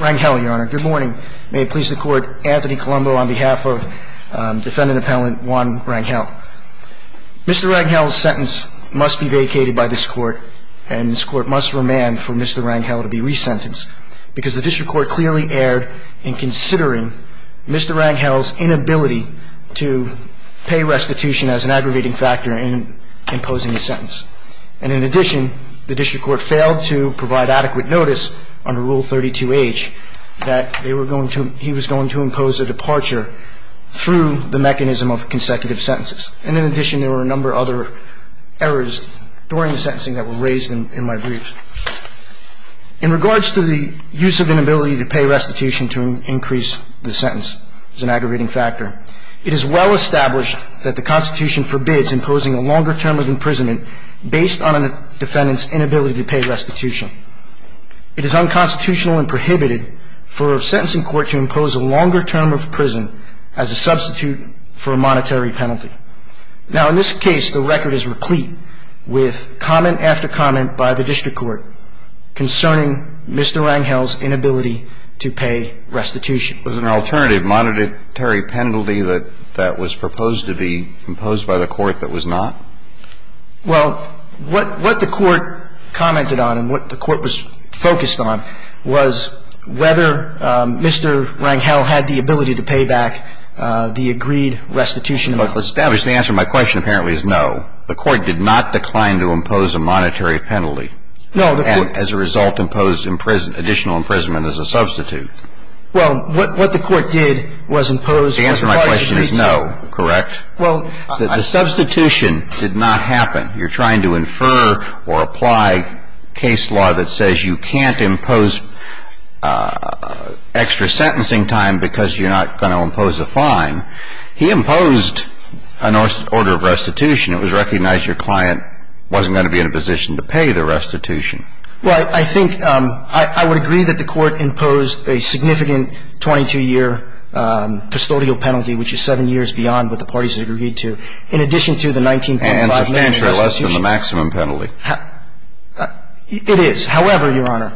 Rangel, your honor. Good morning. May it please the court, Anthony Colombo on behalf of defendant appellant Juan Rangel. Mr. Rangel's sentence must be vacated by this court and this court must remand for Mr. Rangel to be resentenced because the district court clearly erred in considering Mr. Rangel's inability to pay restitution as an aggravating factor in imposing the sentence. And in addition, the district court failed to provide adequate notice under Rule 32H that they were going to, he was going to impose a departure through the mechanism of consecutive sentences. And in addition, there were a number of other errors during the sentencing that were raised in my briefs. In regards to the use of inability to pay restitution to increase the sentence as an aggravating factor, it is well established that the Constitution forbids imposing a longer term of imprisonment based on a defendant's inability to pay restitution. It is unconstitutional and prohibited for a sentencing court to impose a longer term of prison as a substitute for a monetary penalty. Now, in this case, the record is replete with comment after comment by the district court concerning Mr. Rangel's inability to pay restitution. Was there an alternative monetary penalty that was proposed to be imposed by the court that was not? Well, what the court commented on and what the court was focused on was whether Mr. Rangel had the ability to pay back the agreed restitution. Well, it's established. The answer to my question apparently is no. The court did not decline to impose a monetary penalty. No. And as a result, imposed additional imprisonment as a substitute. Well, what the court did was impose as far as you can tell me. The answer to my question is no. Correct? Well, I The substitution did not happen. You're trying to infer or apply case law that says you can't impose extra sentencing time because you're not going to impose a fine. He imposed an order of restitution. It was recognized your client wasn't going to be in a position to pay the restitution. Well, I think I would agree that the court imposed a significant 22-year custodial penalty, which is seven years beyond what the parties agreed to, in addition to the 19.5-minute restitution. And substantially less than the maximum penalty. It is. However, Your Honor,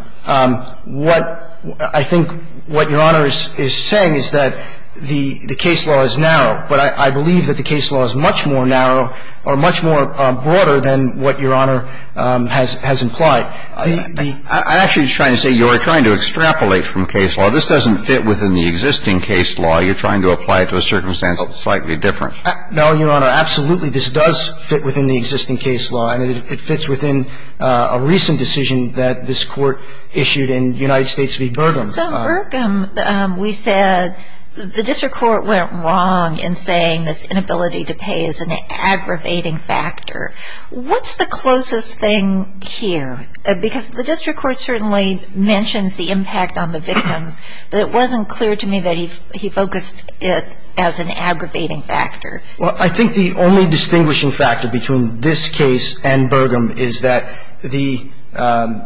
what I think what Your Honor is saying is that the case law is narrow, but I believe that the case law is much more narrow or much more broader than what Your Honor has implied. I'm actually trying to say you are trying to extrapolate from case law. This doesn't fit within the existing case law. You're trying to apply it to a circumstance that's slightly different. No, Your Honor. Absolutely, this does fit within the existing case law, and it fits within a recent decision that this Court issued in United States v. Burgum. So in Burgum, we said the district court went wrong in saying this inability to pay is an aggravating factor. What's the closest thing here? Because the district court certainly mentions the impact on the victims, but it wasn't clear to me that he focused it as an aggravating factor. Well, I think the only distinguishing factor between this case and Burgum is that the –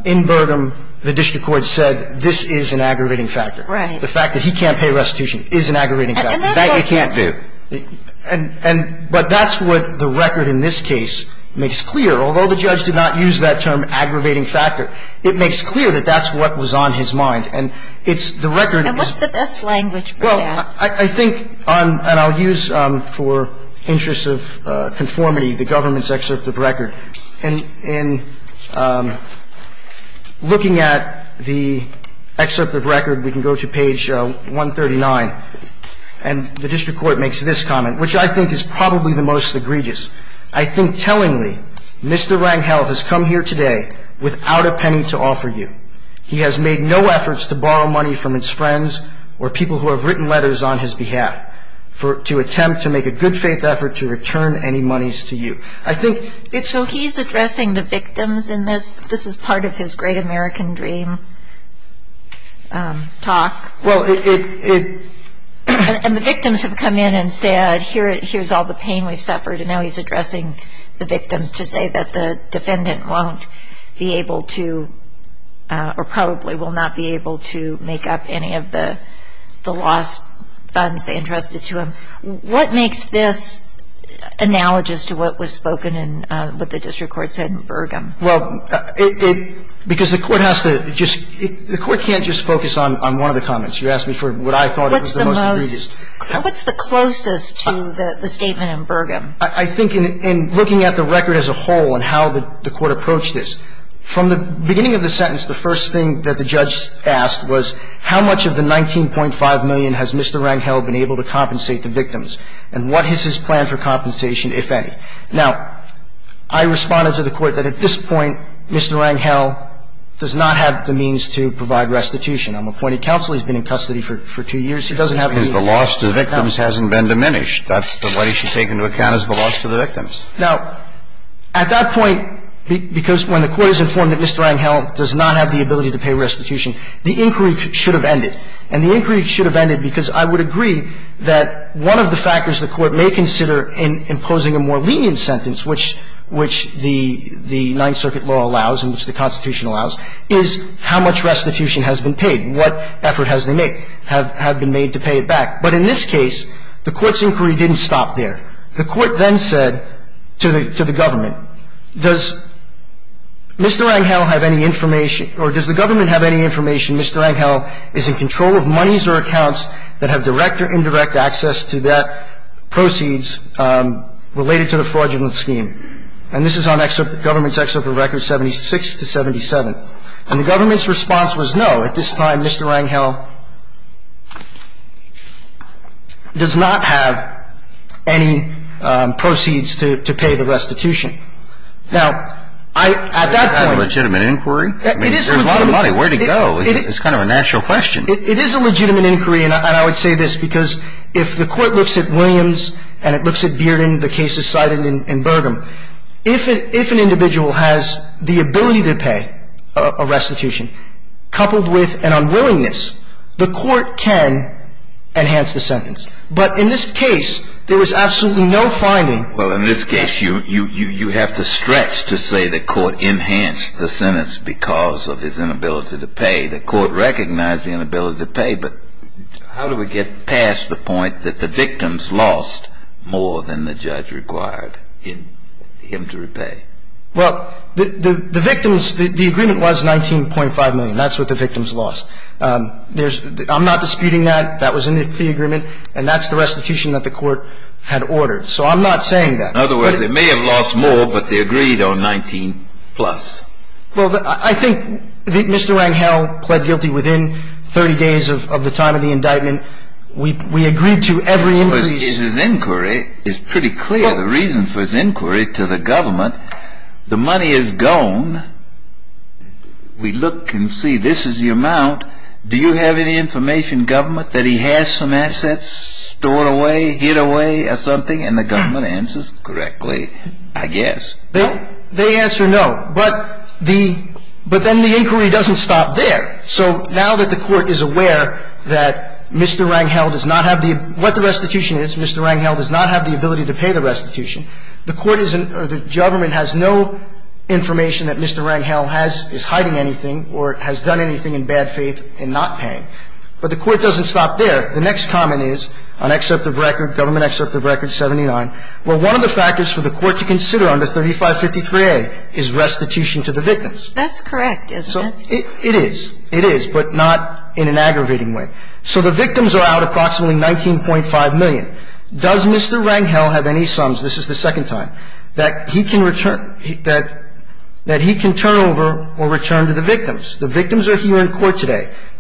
in Burgum, the district court said this is an aggravating factor. Right. The fact that he can't pay restitution is an aggravating factor. And that's what the – That you can't do. And – but that's what the record in this case makes clear. Although the judge did not use that term, aggravating factor, it makes clear that that's what was on his mind. And it's – the record is – And what's the best language for that? Well, I think on – and I'll use for interest of conformity the government's excerpt of record. In looking at the excerpt of record, we can go to page 139, and the district court makes this comment, which I think is probably the most egregious. I think tellingly, Mr. Rangel has come here today without a penny to offer you. He has made no efforts to borrow money from his friends or people who have written letters on his behalf for – to attempt to make a good faith effort to return any monies to you. I think – So he's addressing the victims in this – this is part of his Great American Dream talk. Well, it – And the victims have come in and said, here's all the pain we've suffered, and now he's addressing the victims to say that the defendant won't be able to – or probably will not be able to make up any of the lost funds they entrusted to him. What makes this analogous to what was spoken in – what the district court said in Burgum? Well, it – because the court has to just – the court can't just focus on – on one of the comments. You asked me for what I thought was the most egregious. What's the most – what's the closest to the statement in Burgum? I think in – in looking at the record as a whole and how the court approached this, from the beginning of the sentence, the first thing that the judge asked was, how much of the $19.5 million has Mr. Rangel been able to compensate the victims, and what is his plan for compensation, if any? Now, I responded to the court that at this point, Mr. Rangel does not have the means to provide restitution. I'm appointed counsel. He's been in custody for – for two years. He doesn't have any – Because the loss to the victims hasn't been diminished. That's the way he should take into account is the loss to the victims. Now, at that point, because when the court is informed that Mr. Rangel does not have the ability to pay restitution, the inquiry should have ended. And the inquiry should have ended because I would agree that one of the factors the court may consider in imposing a more lenient sentence, which – which the – the Ninth Circuit law allows and which the Constitution allows, is how much restitution has been paid, what effort has they made – have – have been made to pay it back. But in this case, the court's inquiry didn't stop there. The court then said to the – to the government, does Mr. Rangel have any information – or does the government have any information Mr. Rangel is in control of monies or accounts that have direct or indirect access to that – proceeds related to the fraudulent scheme? And this is on government's excerpt of records 76 to 77. And the court said, no, at this time, Mr. Rangel does not have any proceeds to – to pay the restitution. Now, I – at that point – It's not a legitimate inquiry. It is a legitimate – I mean, there's a lot of money. Where'd it go? It's kind of a natural question. It is a legitimate inquiry. And I would say this, because if the court looks at Williams and it looks at Bearden, the cases cited in – in Burgum, if it – if an unwillingness, the court can enhance the sentence. But in this case, there was absolutely no finding – Well, in this case, you – you – you have to stretch to say the court enhanced the sentence because of his inability to pay. The court recognized the inability to pay, but how do we get past the point that the victims lost more than the judge required in – him to repay? Well, the – the victims – the agreement was 19.5 million. That's what the victims lost. There's – I'm not disputing that. That was in the agreement. And that's the restitution that the court had ordered. So I'm not saying that. In other words, they may have lost more, but they agreed on 19 plus. Well, the – I think that Mr. Rangel pled guilty within 30 days of – of the time of the indictment. We – we agreed to every increase – Well, his – his inquiry is pretty clear. The reason for his inquiry to the amount, do you have any information, government, that he has some assets stored away, hid away or something? And the government answers correctly, I guess. They – they answer no. But the – but then the inquiry doesn't stop there. So now that the court is aware that Mr. Rangel does not have the – what the restitution is, Mr. Rangel does not have the ability to pay the restitution, the court isn't – or the government has no information that Mr. Rangel has – has had faith in not paying. But the court doesn't stop there. The next comment is, on excerpt of record, government excerpt of record 79, well, one of the factors for the court to consider under 3553A is restitution to the victims. That's correct, isn't it? So it – it is. It is, but not in an aggravating way. So the victims are out approximately 19.5 million. Does Mr. Rangel have any sums – this is the second time – that he can return – that – that he can turn over or return to the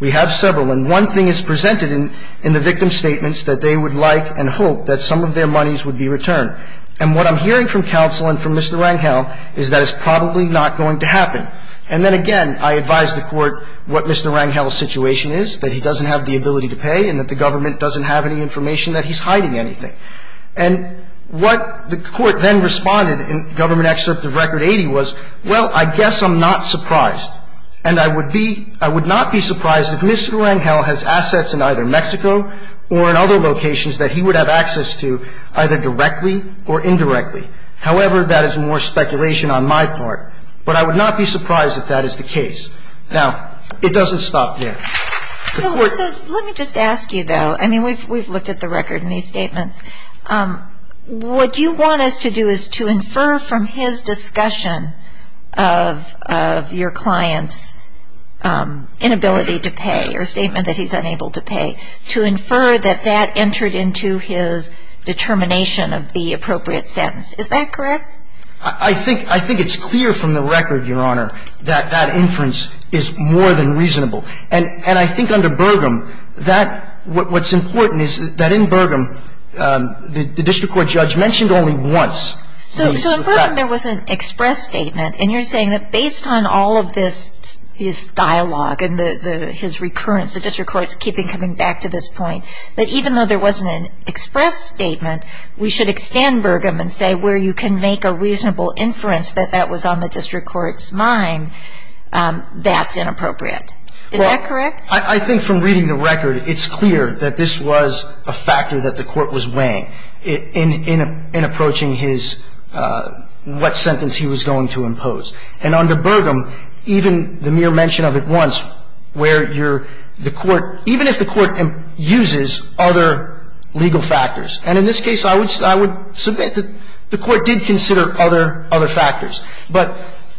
We have several. And one thing is presented in – in the victim statements that they would like and hope that some of their monies would be returned. And what I'm hearing from counsel and from Mr. Rangel is that it's probably not going to happen. And then, again, I advise the court what Mr. Rangel's situation is, that he doesn't have the ability to pay and that the government doesn't have any information that he's hiding anything. And what the court then responded in government excerpt of record 80 was, well, I guess I'm not surprised. And I would be – I would not be surprised if Mr. Rangel has assets in either Mexico or in other locations that he would have access to either directly or indirectly. However, that is more speculation on my part. But I would not be surprised if that is the case. Now, it doesn't stop there. So let me just ask you, though. I mean, we've looked at the record in these statements. What you want us to do is to infer from his discussion of your client's inability to pay or statement that he's unable to pay, to infer that that entered into his determination of the appropriate sentence. Is that correct? I think it's clear from the record, Your Honor, that that inference is more than reasonable. And I think under Burgum, that – what's important is that in Burgum, the district court judge mentioned only once. So in Burgum, there was an express statement. And you're saying that based on all of this – his dialogue and the – his recurrence, the district court's keeping coming back to this point, that even though there wasn't an express statement, we should extend Burgum and say where you can make a reasonable inference that that was on the district court's mind, that's inappropriate. Is that correct? I think from reading the record, it's clear that this was a factor that the court was weighing in approaching his – what sentence he was going to impose. And under Burgum, even the mere mention of it once, where you're – the court – even if the court uses other legal factors. And in this case, I would submit that the court did consider other factors. But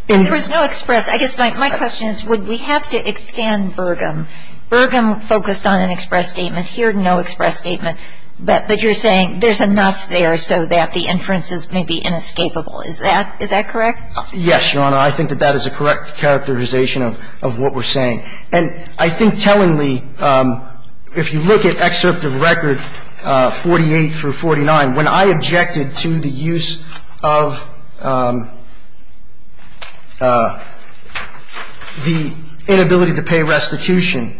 in – There was no express. I guess my question is, would we have to extend Burgum? Burgum focused on an express statement. Here, no express statement. But you're saying there's enough there so that the inferences may be inescapable. Is that – is that correct? Yes, Your Honor. I think that that is a correct characterization of what we're saying. And I think tellingly, if you look at excerpt of record 48 through 49, when I objected to the use of the inability to pay restitution,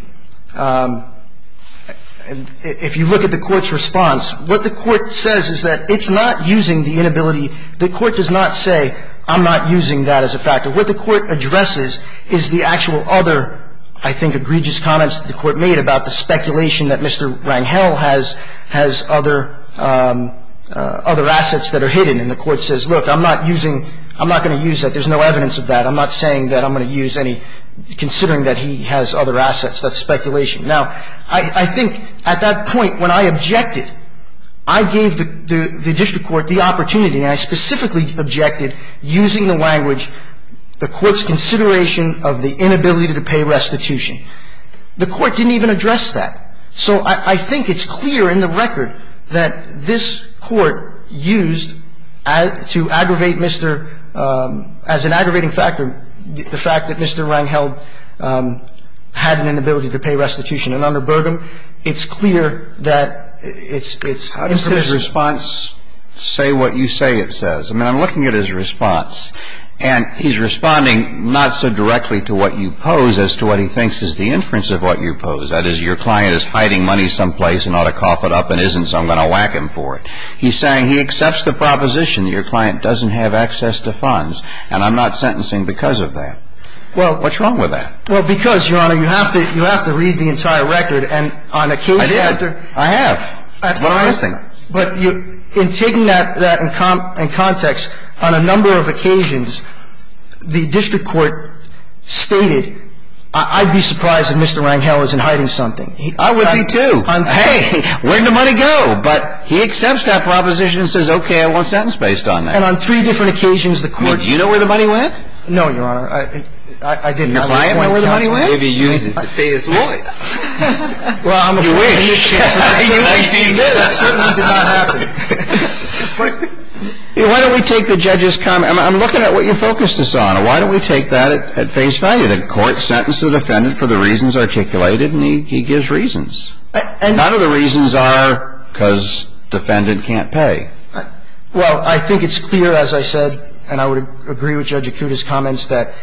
if you look at the court's response, what the court says is that it's not using the inability – the court does not say I'm not using that as a factor. What the court addresses is the actual other, I think, egregious comments that the court says, look, I'm not using – I'm not going to use that. There's no evidence of that. I'm not saying that I'm going to use any – considering that he has other assets. That's speculation. Now, I think at that point when I objected, I gave the district court the opportunity and I specifically objected using the language, the court's consideration of the inability to pay restitution. The court didn't even address that. So I think it's clear in the record that this court used to aggravate Mr. – as an aggravating factor, the fact that Mr. Rangel had an inability to pay restitution. And under Burgum, it's clear that it's impermissible. How does his response say what you say it says? I mean, I'm looking at his response, and he's responding not so directly to what you pose as to what he thinks is the inference of what you pose. That is, your client is hiding money someplace and ought to cough it up and isn't, so I'm going to whack him for it. He's saying he accepts the proposition that your client doesn't have access to funds, and I'm not sentencing because of that. Well – What's wrong with that? Well, because, Your Honor, you have to – you have to read the entire record, and on occasion after – I did. I have. But I'm guessing. But you – in taking that in context, on a number of occasions, the district court stated, I'd be surprised if Mr. Rangel isn't hiding something. I would be, too. Hey, where'd the money go? But he accepts that proposition and says, okay, I won't sentence based on that. And on three different occasions, the court – Well, do you know where the money went? No, Your Honor. I didn't. Your client won't be able to use it to pay his lawyer. Well, I'm afraid – You wish. You wish. That certainly did not happen. Why don't we take the judge's comment – I'm looking at what you focused us on. Why don't we take that at face value? The court sentenced the defendant for the reasons articulated, and he gives reasons. And none of the reasons are because defendant can't pay. Well, I think it's clear, as I said, and I would agree with Judge Acuda's comments, that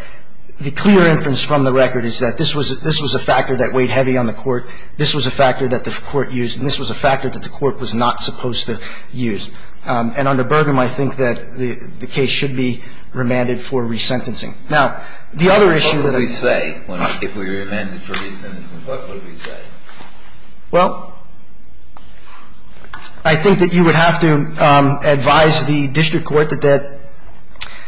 the clear inference from the record is that this was a factor that weighed heavy on the court. This was a factor that the court used, and this was a factor that the court was not supposed to use. And under Burgum, I think that the case should be remanded for resentencing. Now, the other issue that – What would we say if we were remanded for resentencing? What would we say? Well, I think that you would have to advise the district court that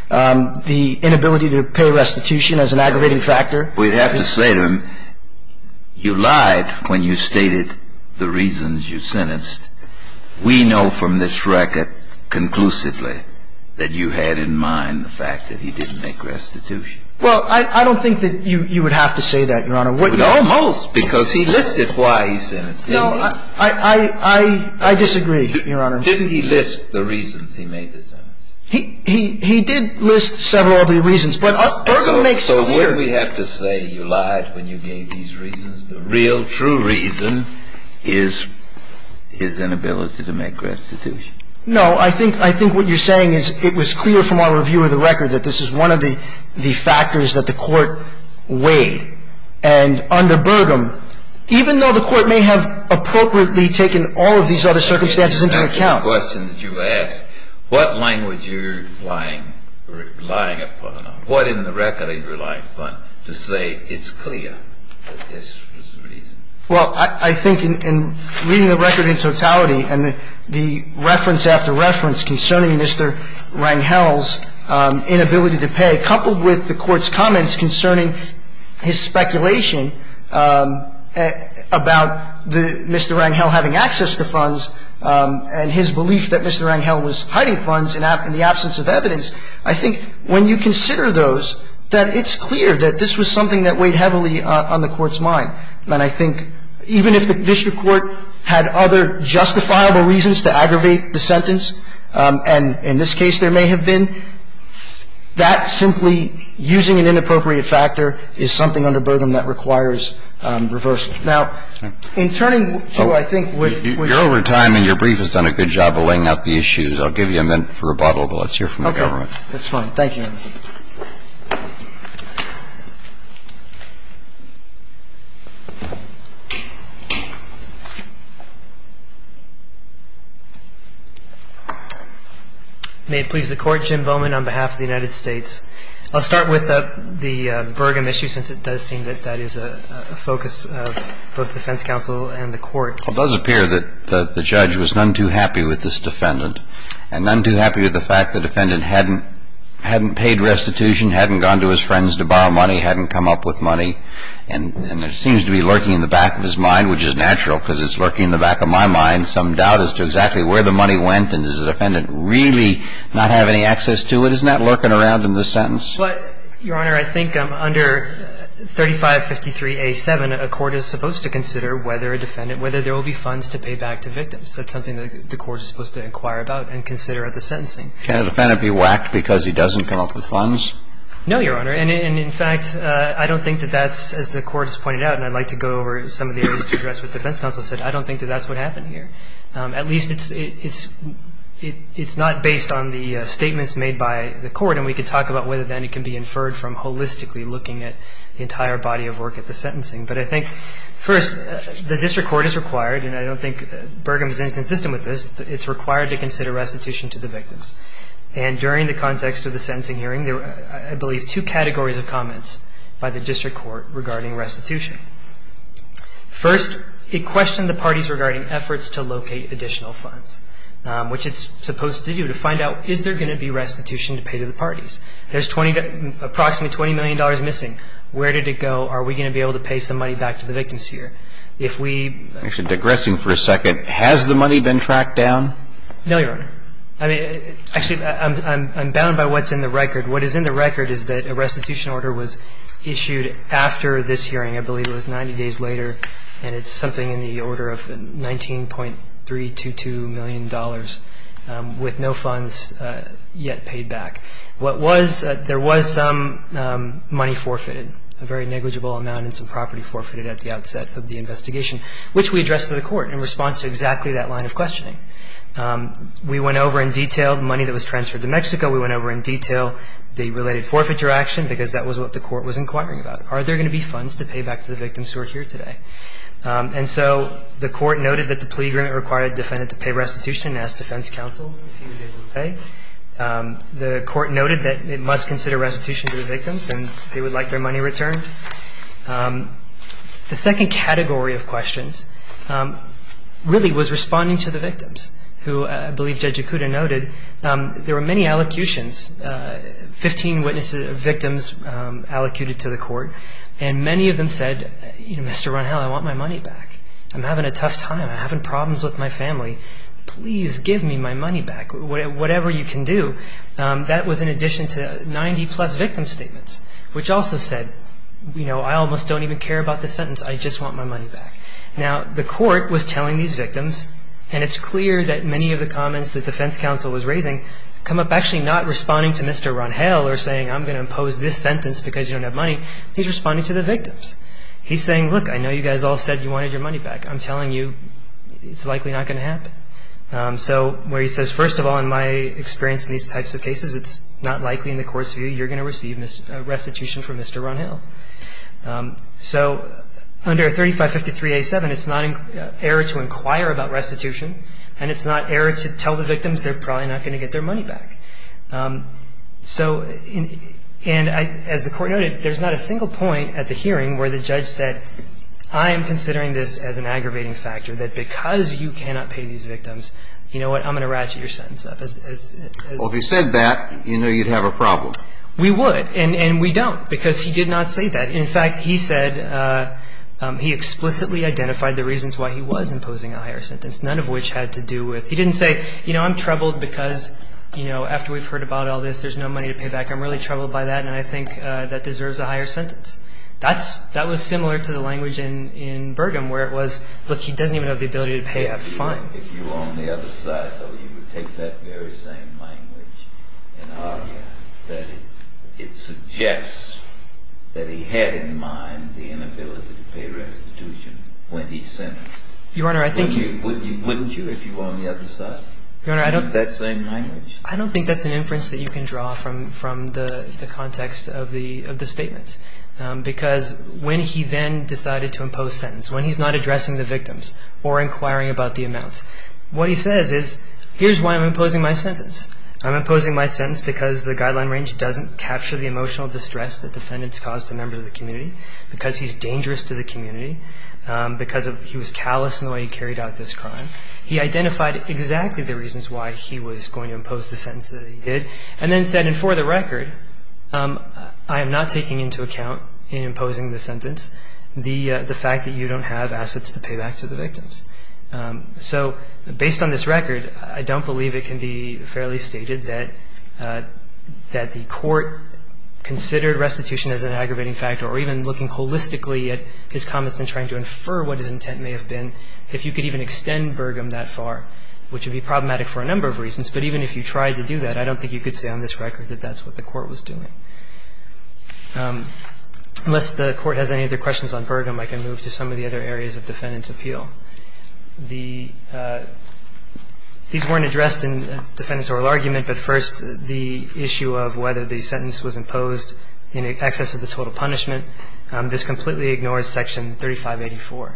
the inability to pay restitution is an aggravating factor. We'd have to say to him, you lied when you stated the reasons you sentenced. We know from this record conclusively that you had in mind the fact that he didn't make restitution. Well, I don't think that you would have to say that, Your Honor. Almost, because he listed why he sentenced. No, I disagree, Your Honor. Didn't he list the reasons he made the sentence? He did list several of the reasons, but Burgum makes it clear. So wouldn't we have to say you lied when you gave these reasons? The real true reason is his inability to make restitution. No. I think what you're saying is it was clear from our review of the record that this is one of the factors that the court weighed. And under Burgum, even though the court may have appropriately taken all of these other circumstances into account – I have a question that you asked. What language are you relying upon? What in the record are you relying upon to say it's clear that this was the reason? Well, I think in reading the record in totality and the reference after reference concerning Mr. Rangel's inability to pay, coupled with the court's comments concerning his speculation about Mr. Rangel having access to funds and his belief that Mr. Rangel was hiding funds in the absence of evidence, I think when you consider those, that it's clear that this was something that weighed heavily on the court's mind. And I think even if the district court had other justifiable reasons to aggravate the sentence, and in this case there may have been, that simply using an inappropriate factor is something under Burgum that requires reversal. Now, in turning to, I think, which – You're over time and your brief has done a good job of laying out the issues. I'll give you a minute for rebuttal, but let's hear from the government. That's fine. Thank you. May it please the Court, Jim Bowman on behalf of the United States. I'll start with the Burgum issue since it does seem that that is a focus of both defense counsel and the court. It does appear that the judge was none too happy with this defendant and none too happy with the fact the defendant hadn't paid restitution, hadn't gone to his friends to borrow money, hadn't come up with money. And it seems to be lurking in the back of his mind, which is natural because it's lurking in the back of my mind. Some doubt as to exactly where the money went and does the defendant really not have any access to it. Isn't that lurking around in the sentence? But, Your Honor, I think under 3553A7, a court is supposed to consider whether a defendant – whether there will be funds to pay back to victims. That's something the court is supposed to inquire about and consider at the sentencing. Can a defendant be whacked because he doesn't come up with funds? No, Your Honor. And in fact, I don't think that that's, as the court has pointed out, and I'd like to go over some of the areas to address what defense counsel said, I don't think that that's what happened here. At least it's not based on the statements made by the court. And we could talk about whether then it can be inferred from holistically looking at the entire body of work at the sentencing. But I think, first, the district court is required, and I don't think Burgum is inconsistent with this, it's required to consider restitution to the victims. And during the context of the sentencing hearing, there were, I believe, two categories of comments by the district court regarding restitution. First, it questioned the parties regarding efforts to locate additional funds, which it's supposed to do to find out is there going to be restitution to pay to the parties. There's approximately $20 million missing. Where did it go? Are we going to be able to pay some money back to the victims here? If we ---- Actually, digressing for a second, has the money been tracked down? No, Your Honor. I mean, actually, I'm bound by what's in the record. What is in the record is that a restitution order was issued after this hearing. I believe it was 90 days later, and it's something in the order of $19.322 million with no funds yet paid back. What was ---- There was some money forfeited, a very negligible amount, and some property forfeited at the outset of the investigation, which we addressed to the court in response to exactly that line of questioning. We went over in detail the money that was transferred to Mexico. We went over in detail the related forfeiture action because that was what the court was inquiring about. Are there going to be funds to pay back to the victims who are here today? And so the court noted that the plea agreement required a defendant to pay restitution and asked defense counsel if he was able to pay. The court noted that it must consider restitution to the victims, and they would like their money returned. The second category of questions really was responding to the victims, who I believe Judge Yakuta noted there were many allocutions, 15 witnesses, victims allocated to the court, and many of them said, you know, Mr. Runhell, I want my money back. I'm having a tough time. I'm having problems with my family. Please give me my money back. Whatever you can do. That was in addition to 90-plus victim statements, which also said, you know, I almost don't even care about this sentence. I just want my money back. Now, the court was telling these victims, and it's clear that many of the comments that defense counsel was raising come up actually not responding to Mr. Runhell or saying I'm going to impose this sentence because you don't have money. He's responding to the victims. He's saying, look, I know you guys all said you wanted your money back. I'm telling you it's likely not going to happen. So where he says, first of all, in my experience in these types of cases, it's not likely in the court's view you're going to receive restitution from Mr. Runhell. So under 3553A7, it's not an error to inquire about restitution, and it's not an error to tell the victims they're probably not going to get their money back. So and as the court noted, there's not a single point at the hearing where the judge said I am considering this as an aggravating factor, that because you cannot pay these victims, you know what, I'm going to ratchet your sentence up. Well, if he said that, you know you'd have a problem. We would, and we don't, because he did not say that. In fact, he said he explicitly identified the reasons why he was imposing a higher sentence, none of which had to do with he didn't say, you know, I'm troubled because, you know, after we've heard about all this, there's no money to pay back. I'm really troubled by that, and I think that deserves a higher sentence. That's – that was similar to the language in Burgum where it was, look, he doesn't even have the ability to pay a fine. If you were on the other side, though, you would take that very same language and argue that it suggests that he had in mind the inability to pay restitution when he sentenced. Your Honor, I think you – Wouldn't you if you were on the other side? Your Honor, I don't – That same language. I don't think that's an inference that you can draw from the context of the statements. Because when he then decided to impose sentence, when he's not addressing the victims or inquiring about the amounts, what he says is, here's why I'm imposing my sentence. I'm imposing my sentence because the guideline range doesn't capture the emotional distress that defendants cause to members of the community, because he's dangerous to the community, because he was callous in the way he carried out this crime. He identified exactly the reasons why he was going to impose the sentence that he did and then said, and for the record, I am not taking into account in imposing the sentence the fact that you don't have assets to pay back to the victims. So based on this record, I don't believe it can be fairly stated that the court considered restitution as an aggravating factor or even looking holistically at his comments and trying to infer what his intent may have been if you could even extend Burgum that far, which would be problematic for a number of reasons. But even if you tried to do that, I don't think you could say on this record that that's what the court was doing. Unless the court has any other questions on Burgum, I can move to some of the other areas of defendant's appeal. These weren't addressed in the defendant's oral argument, but first the issue of whether the sentence was imposed in excess of the total punishment. This completely ignores Section 3584.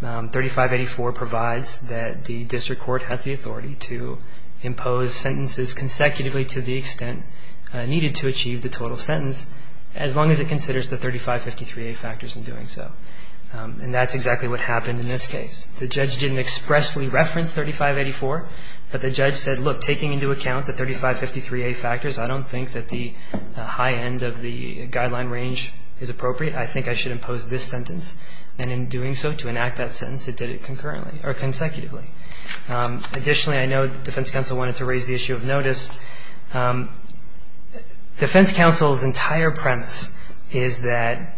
3584 provides that the district court has the authority to impose sentences consecutively to the extent needed to achieve the total sentence, as long as it considers the 3553A factors in doing so. And that's exactly what happened in this case. The judge didn't expressly reference 3584, but the judge said, look, taking into account the 3553A factors, I don't think that the high end of the guideline range is appropriate. I think I should impose this sentence. And in doing so, to enact that sentence, it did it concurrently or consecutively. Additionally, I know the defense counsel wanted to raise the issue of notice. Defense counsel's entire premise is that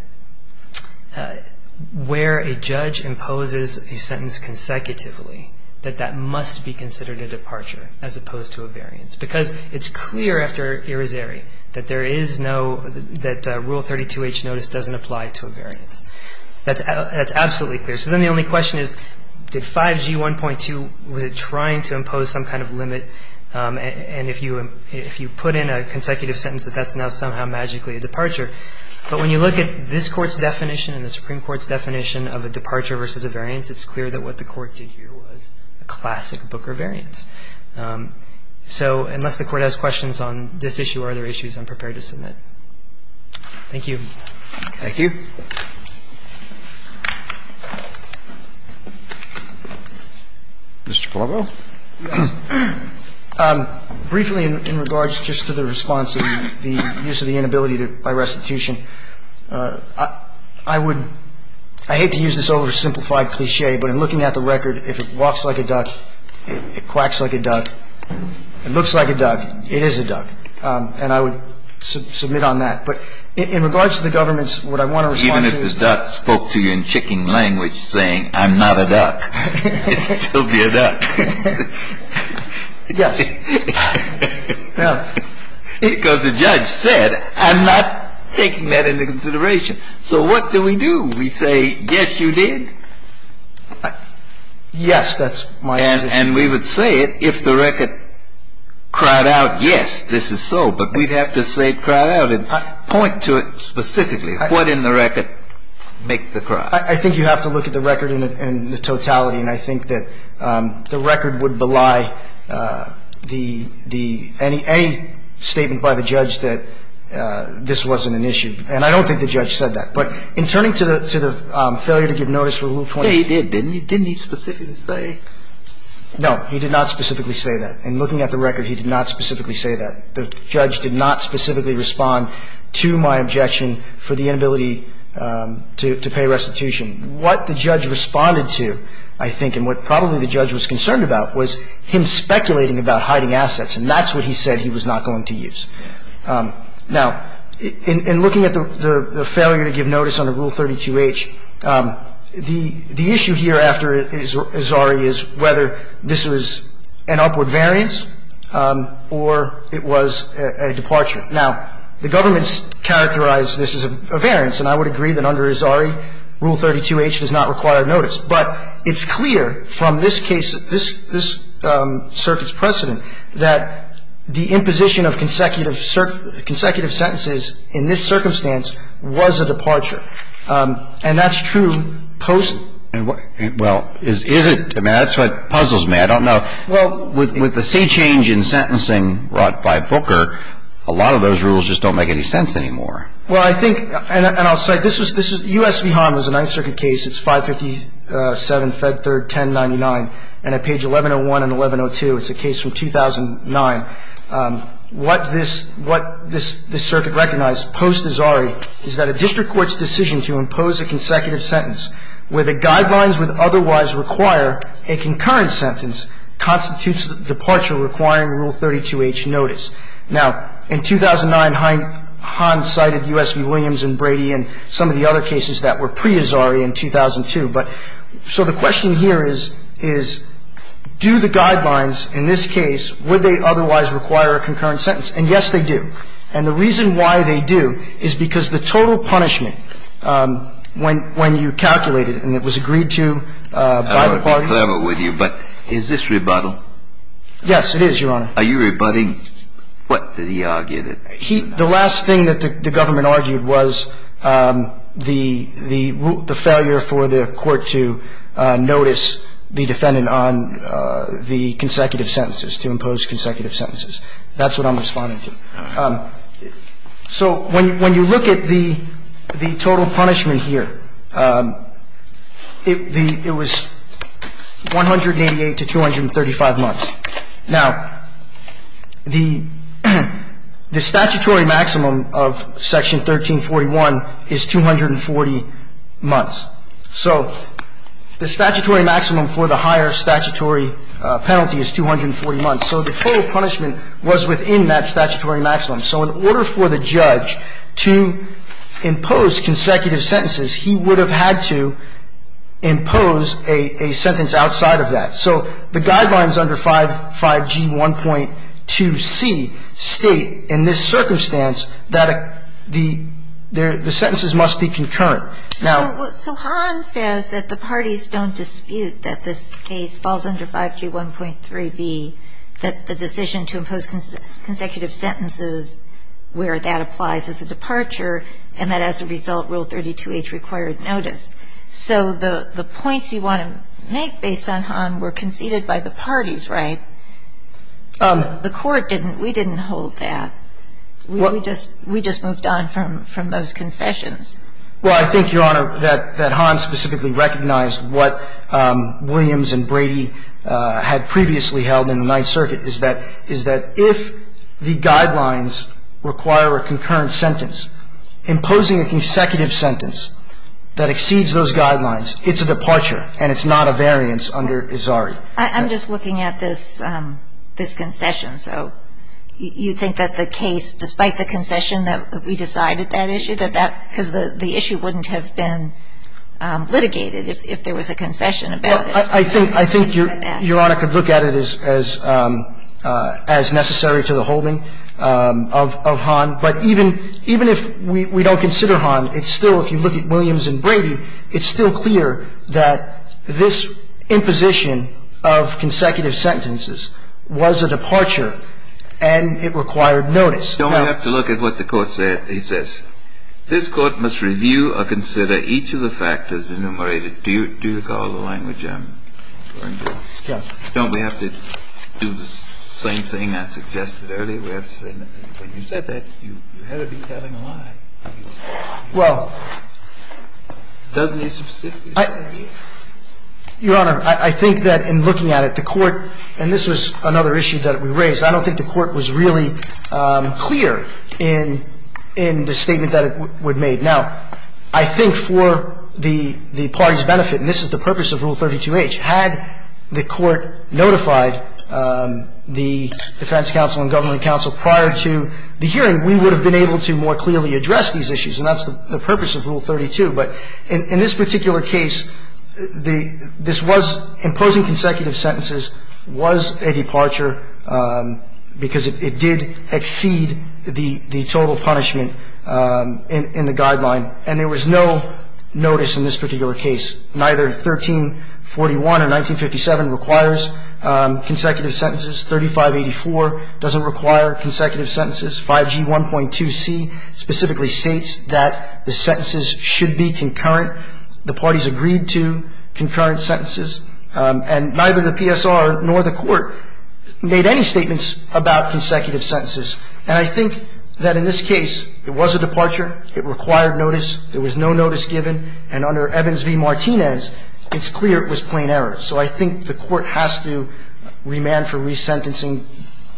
where a judge imposes a sentence consecutively, that that must be considered a departure as opposed to a variance. Because it's clear after Irizarry that Rule 32H notice doesn't apply to a variance. That's absolutely clear. So then the only question is, did 5G 1.2, was it trying to impose some kind of limit? And if you put in a consecutive sentence, that that's now somehow magically a departure. But when you look at this Court's definition and the Supreme Court's definition of a departure versus a variance, it's clear that what the Court did here was a classic Booker variance. So unless the Court has questions on this issue or other issues, I'm prepared to submit. Thank you. Thank you. Mr. Palmo. Briefly in regards just to the response of the use of the inability by restitution, I would – I hate to use this oversimplified cliché, but in looking at the record, if it walks like a duck, it quacks like a duck, it looks like a duck, it is a duck. And I would submit on that. But in regards to the government's – what I want to respond to is – Even if this duck spoke to you in chicken language saying, I'm not a duck, it'd still be a duck. Yes. Because the judge said, I'm not taking that into consideration. So what do we do? We say, yes, you did. Yes, that's my position. And we would say it if the record cried out, yes, this is so. But we'd have to say it cried out and point to it specifically. What in the record makes the cry? I think you have to look at the record in the totality. And I think that the record would belie the – any statement by the judge that this wasn't an issue. And I don't think the judge said that. But in turning to the failure to give notice for Rule 22. Yes, he did. Didn't he specifically say? No, he did not specifically say that. In looking at the record, he did not specifically say that. The judge did not specifically respond to my objection for the inability to pay restitution. What the judge responded to, I think, and what probably the judge was concerned about, was him speculating about hiding assets. And that's what he said he was not going to use. Yes. Now, in looking at the failure to give notice under Rule 32H, the issue here after Azari is whether this was an upward variance or it was a departure. Now, the government's characterized this as a variance. And I would agree that under Azari, Rule 32H does not require notice. But it's clear from this case, this circuit's precedent, that the imposition of consecutive sentences in this circumstance was a departure. And that's true post. Well, is it? I mean, that's what puzzles me. I don't know. Well, with the C change in sentencing brought by Booker, a lot of those rules just don't make any sense anymore. Well, I think, and I'll say, this was – U.S. v. Hahn was a Ninth Circuit case. It's 557 Fed Third 1099. And at page 1101 and 1102, it's a case from 2009. What this circuit recognized post-Azari is that a district court's decision to impose a consecutive sentence where the guidelines would otherwise require a concurrent sentence constitutes a departure requiring Rule 32H notice. Now, in 2009, Hahn cited U.S. v. Williams and Brady and some of the other cases that were pre-Azari in 2002. But so the question here is, do the guidelines in this case, would they otherwise require a concurrent sentence? And, yes, they do. And the reason why they do is because the total punishment when you calculated and it was agreed to by the parties. I don't want to be clever with you, but is this rebuttal? Yes, it is, Your Honor. Are you rebutting what he argued? The last thing that the government argued was the failure for the court to notice the defendant on the consecutive sentences, to impose consecutive sentences. That's what I'm responding to. So when you look at the total punishment here, it was 188 to 235 months. Now, the statutory maximum of Section 1341 is 240 months. So the statutory maximum for the higher statutory penalty is 240 months. So the total punishment was within that statutory maximum. So in order for the judge to impose consecutive sentences, he would have had to impose a sentence outside of that. So the guidelines under 5G1.2C state in this circumstance that the sentences must be concurrent. Now ---- So Hahn says that the parties don't dispute that this case falls under 5G1.3B, that the decision to impose consecutive sentences where that applies is a departure and that as a result Rule 32H required notice. So the points you want to make based on Hahn were conceded by the parties, right? The court didn't. We didn't hold that. We just moved on from those concessions. Well, I think, Your Honor, that Hahn specifically recognized what Williams and Brady had previously held in the Ninth Circuit is that if the guidelines require a concurrent sentence, imposing a consecutive sentence that exceeds those guidelines, it's a departure and it's not a variance under ISARI. I'm just looking at this concession. So you think that the case, despite the concession that we decided that issue, that that ---- because the issue wouldn't have been litigated if there was a concession about it. Well, I think Your Honor could look at it as necessary to the holding of Hahn. But even if we don't consider Hahn, it's still, if you look at Williams and Brady, it's still clear that this imposition of consecutive sentences was a departure and it required notice. Don't we have to look at what the Court said? It says, this Court must review or consider each of the factors enumerated. Do you recall the language I'm referring to? Yes. Don't we have to do the same thing I suggested earlier? Well, Your Honor, I think that in looking at it, the Court, and this was another issue that we raised, I don't think the Court was really clear in the statement that it would make. Now, I think for the party's benefit, and this is the purpose of Rule 32H, had the hearing, we would have been able to more clearly address these issues, and that's the purpose of Rule 32. But in this particular case, this was, imposing consecutive sentences was a departure because it did exceed the total punishment in the guideline, and there was no notice in this particular case. Neither 1341 and 1957 requires consecutive sentences. 3584 doesn't require consecutive sentences. 5G 1.2c specifically states that the sentences should be concurrent. The parties agreed to concurrent sentences. And neither the PSR nor the Court made any statements about consecutive sentences. And I think that in this case, it was a departure. It required notice. There was no notice given. And under Evans v. Martinez, it's clear it was plain error. So I think the Court has to remand for resentencing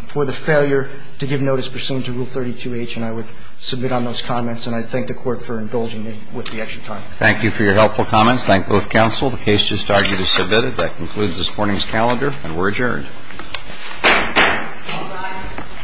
for the failure to give notice pursuant to Rule 32H, and I would submit on those comments. And I thank the Court for indulging me with the extra time. Thank you for your helpful comments. Thank both counsel. The case just argued is submitted. That concludes this morning's calendar, and we're adjourned. All rise.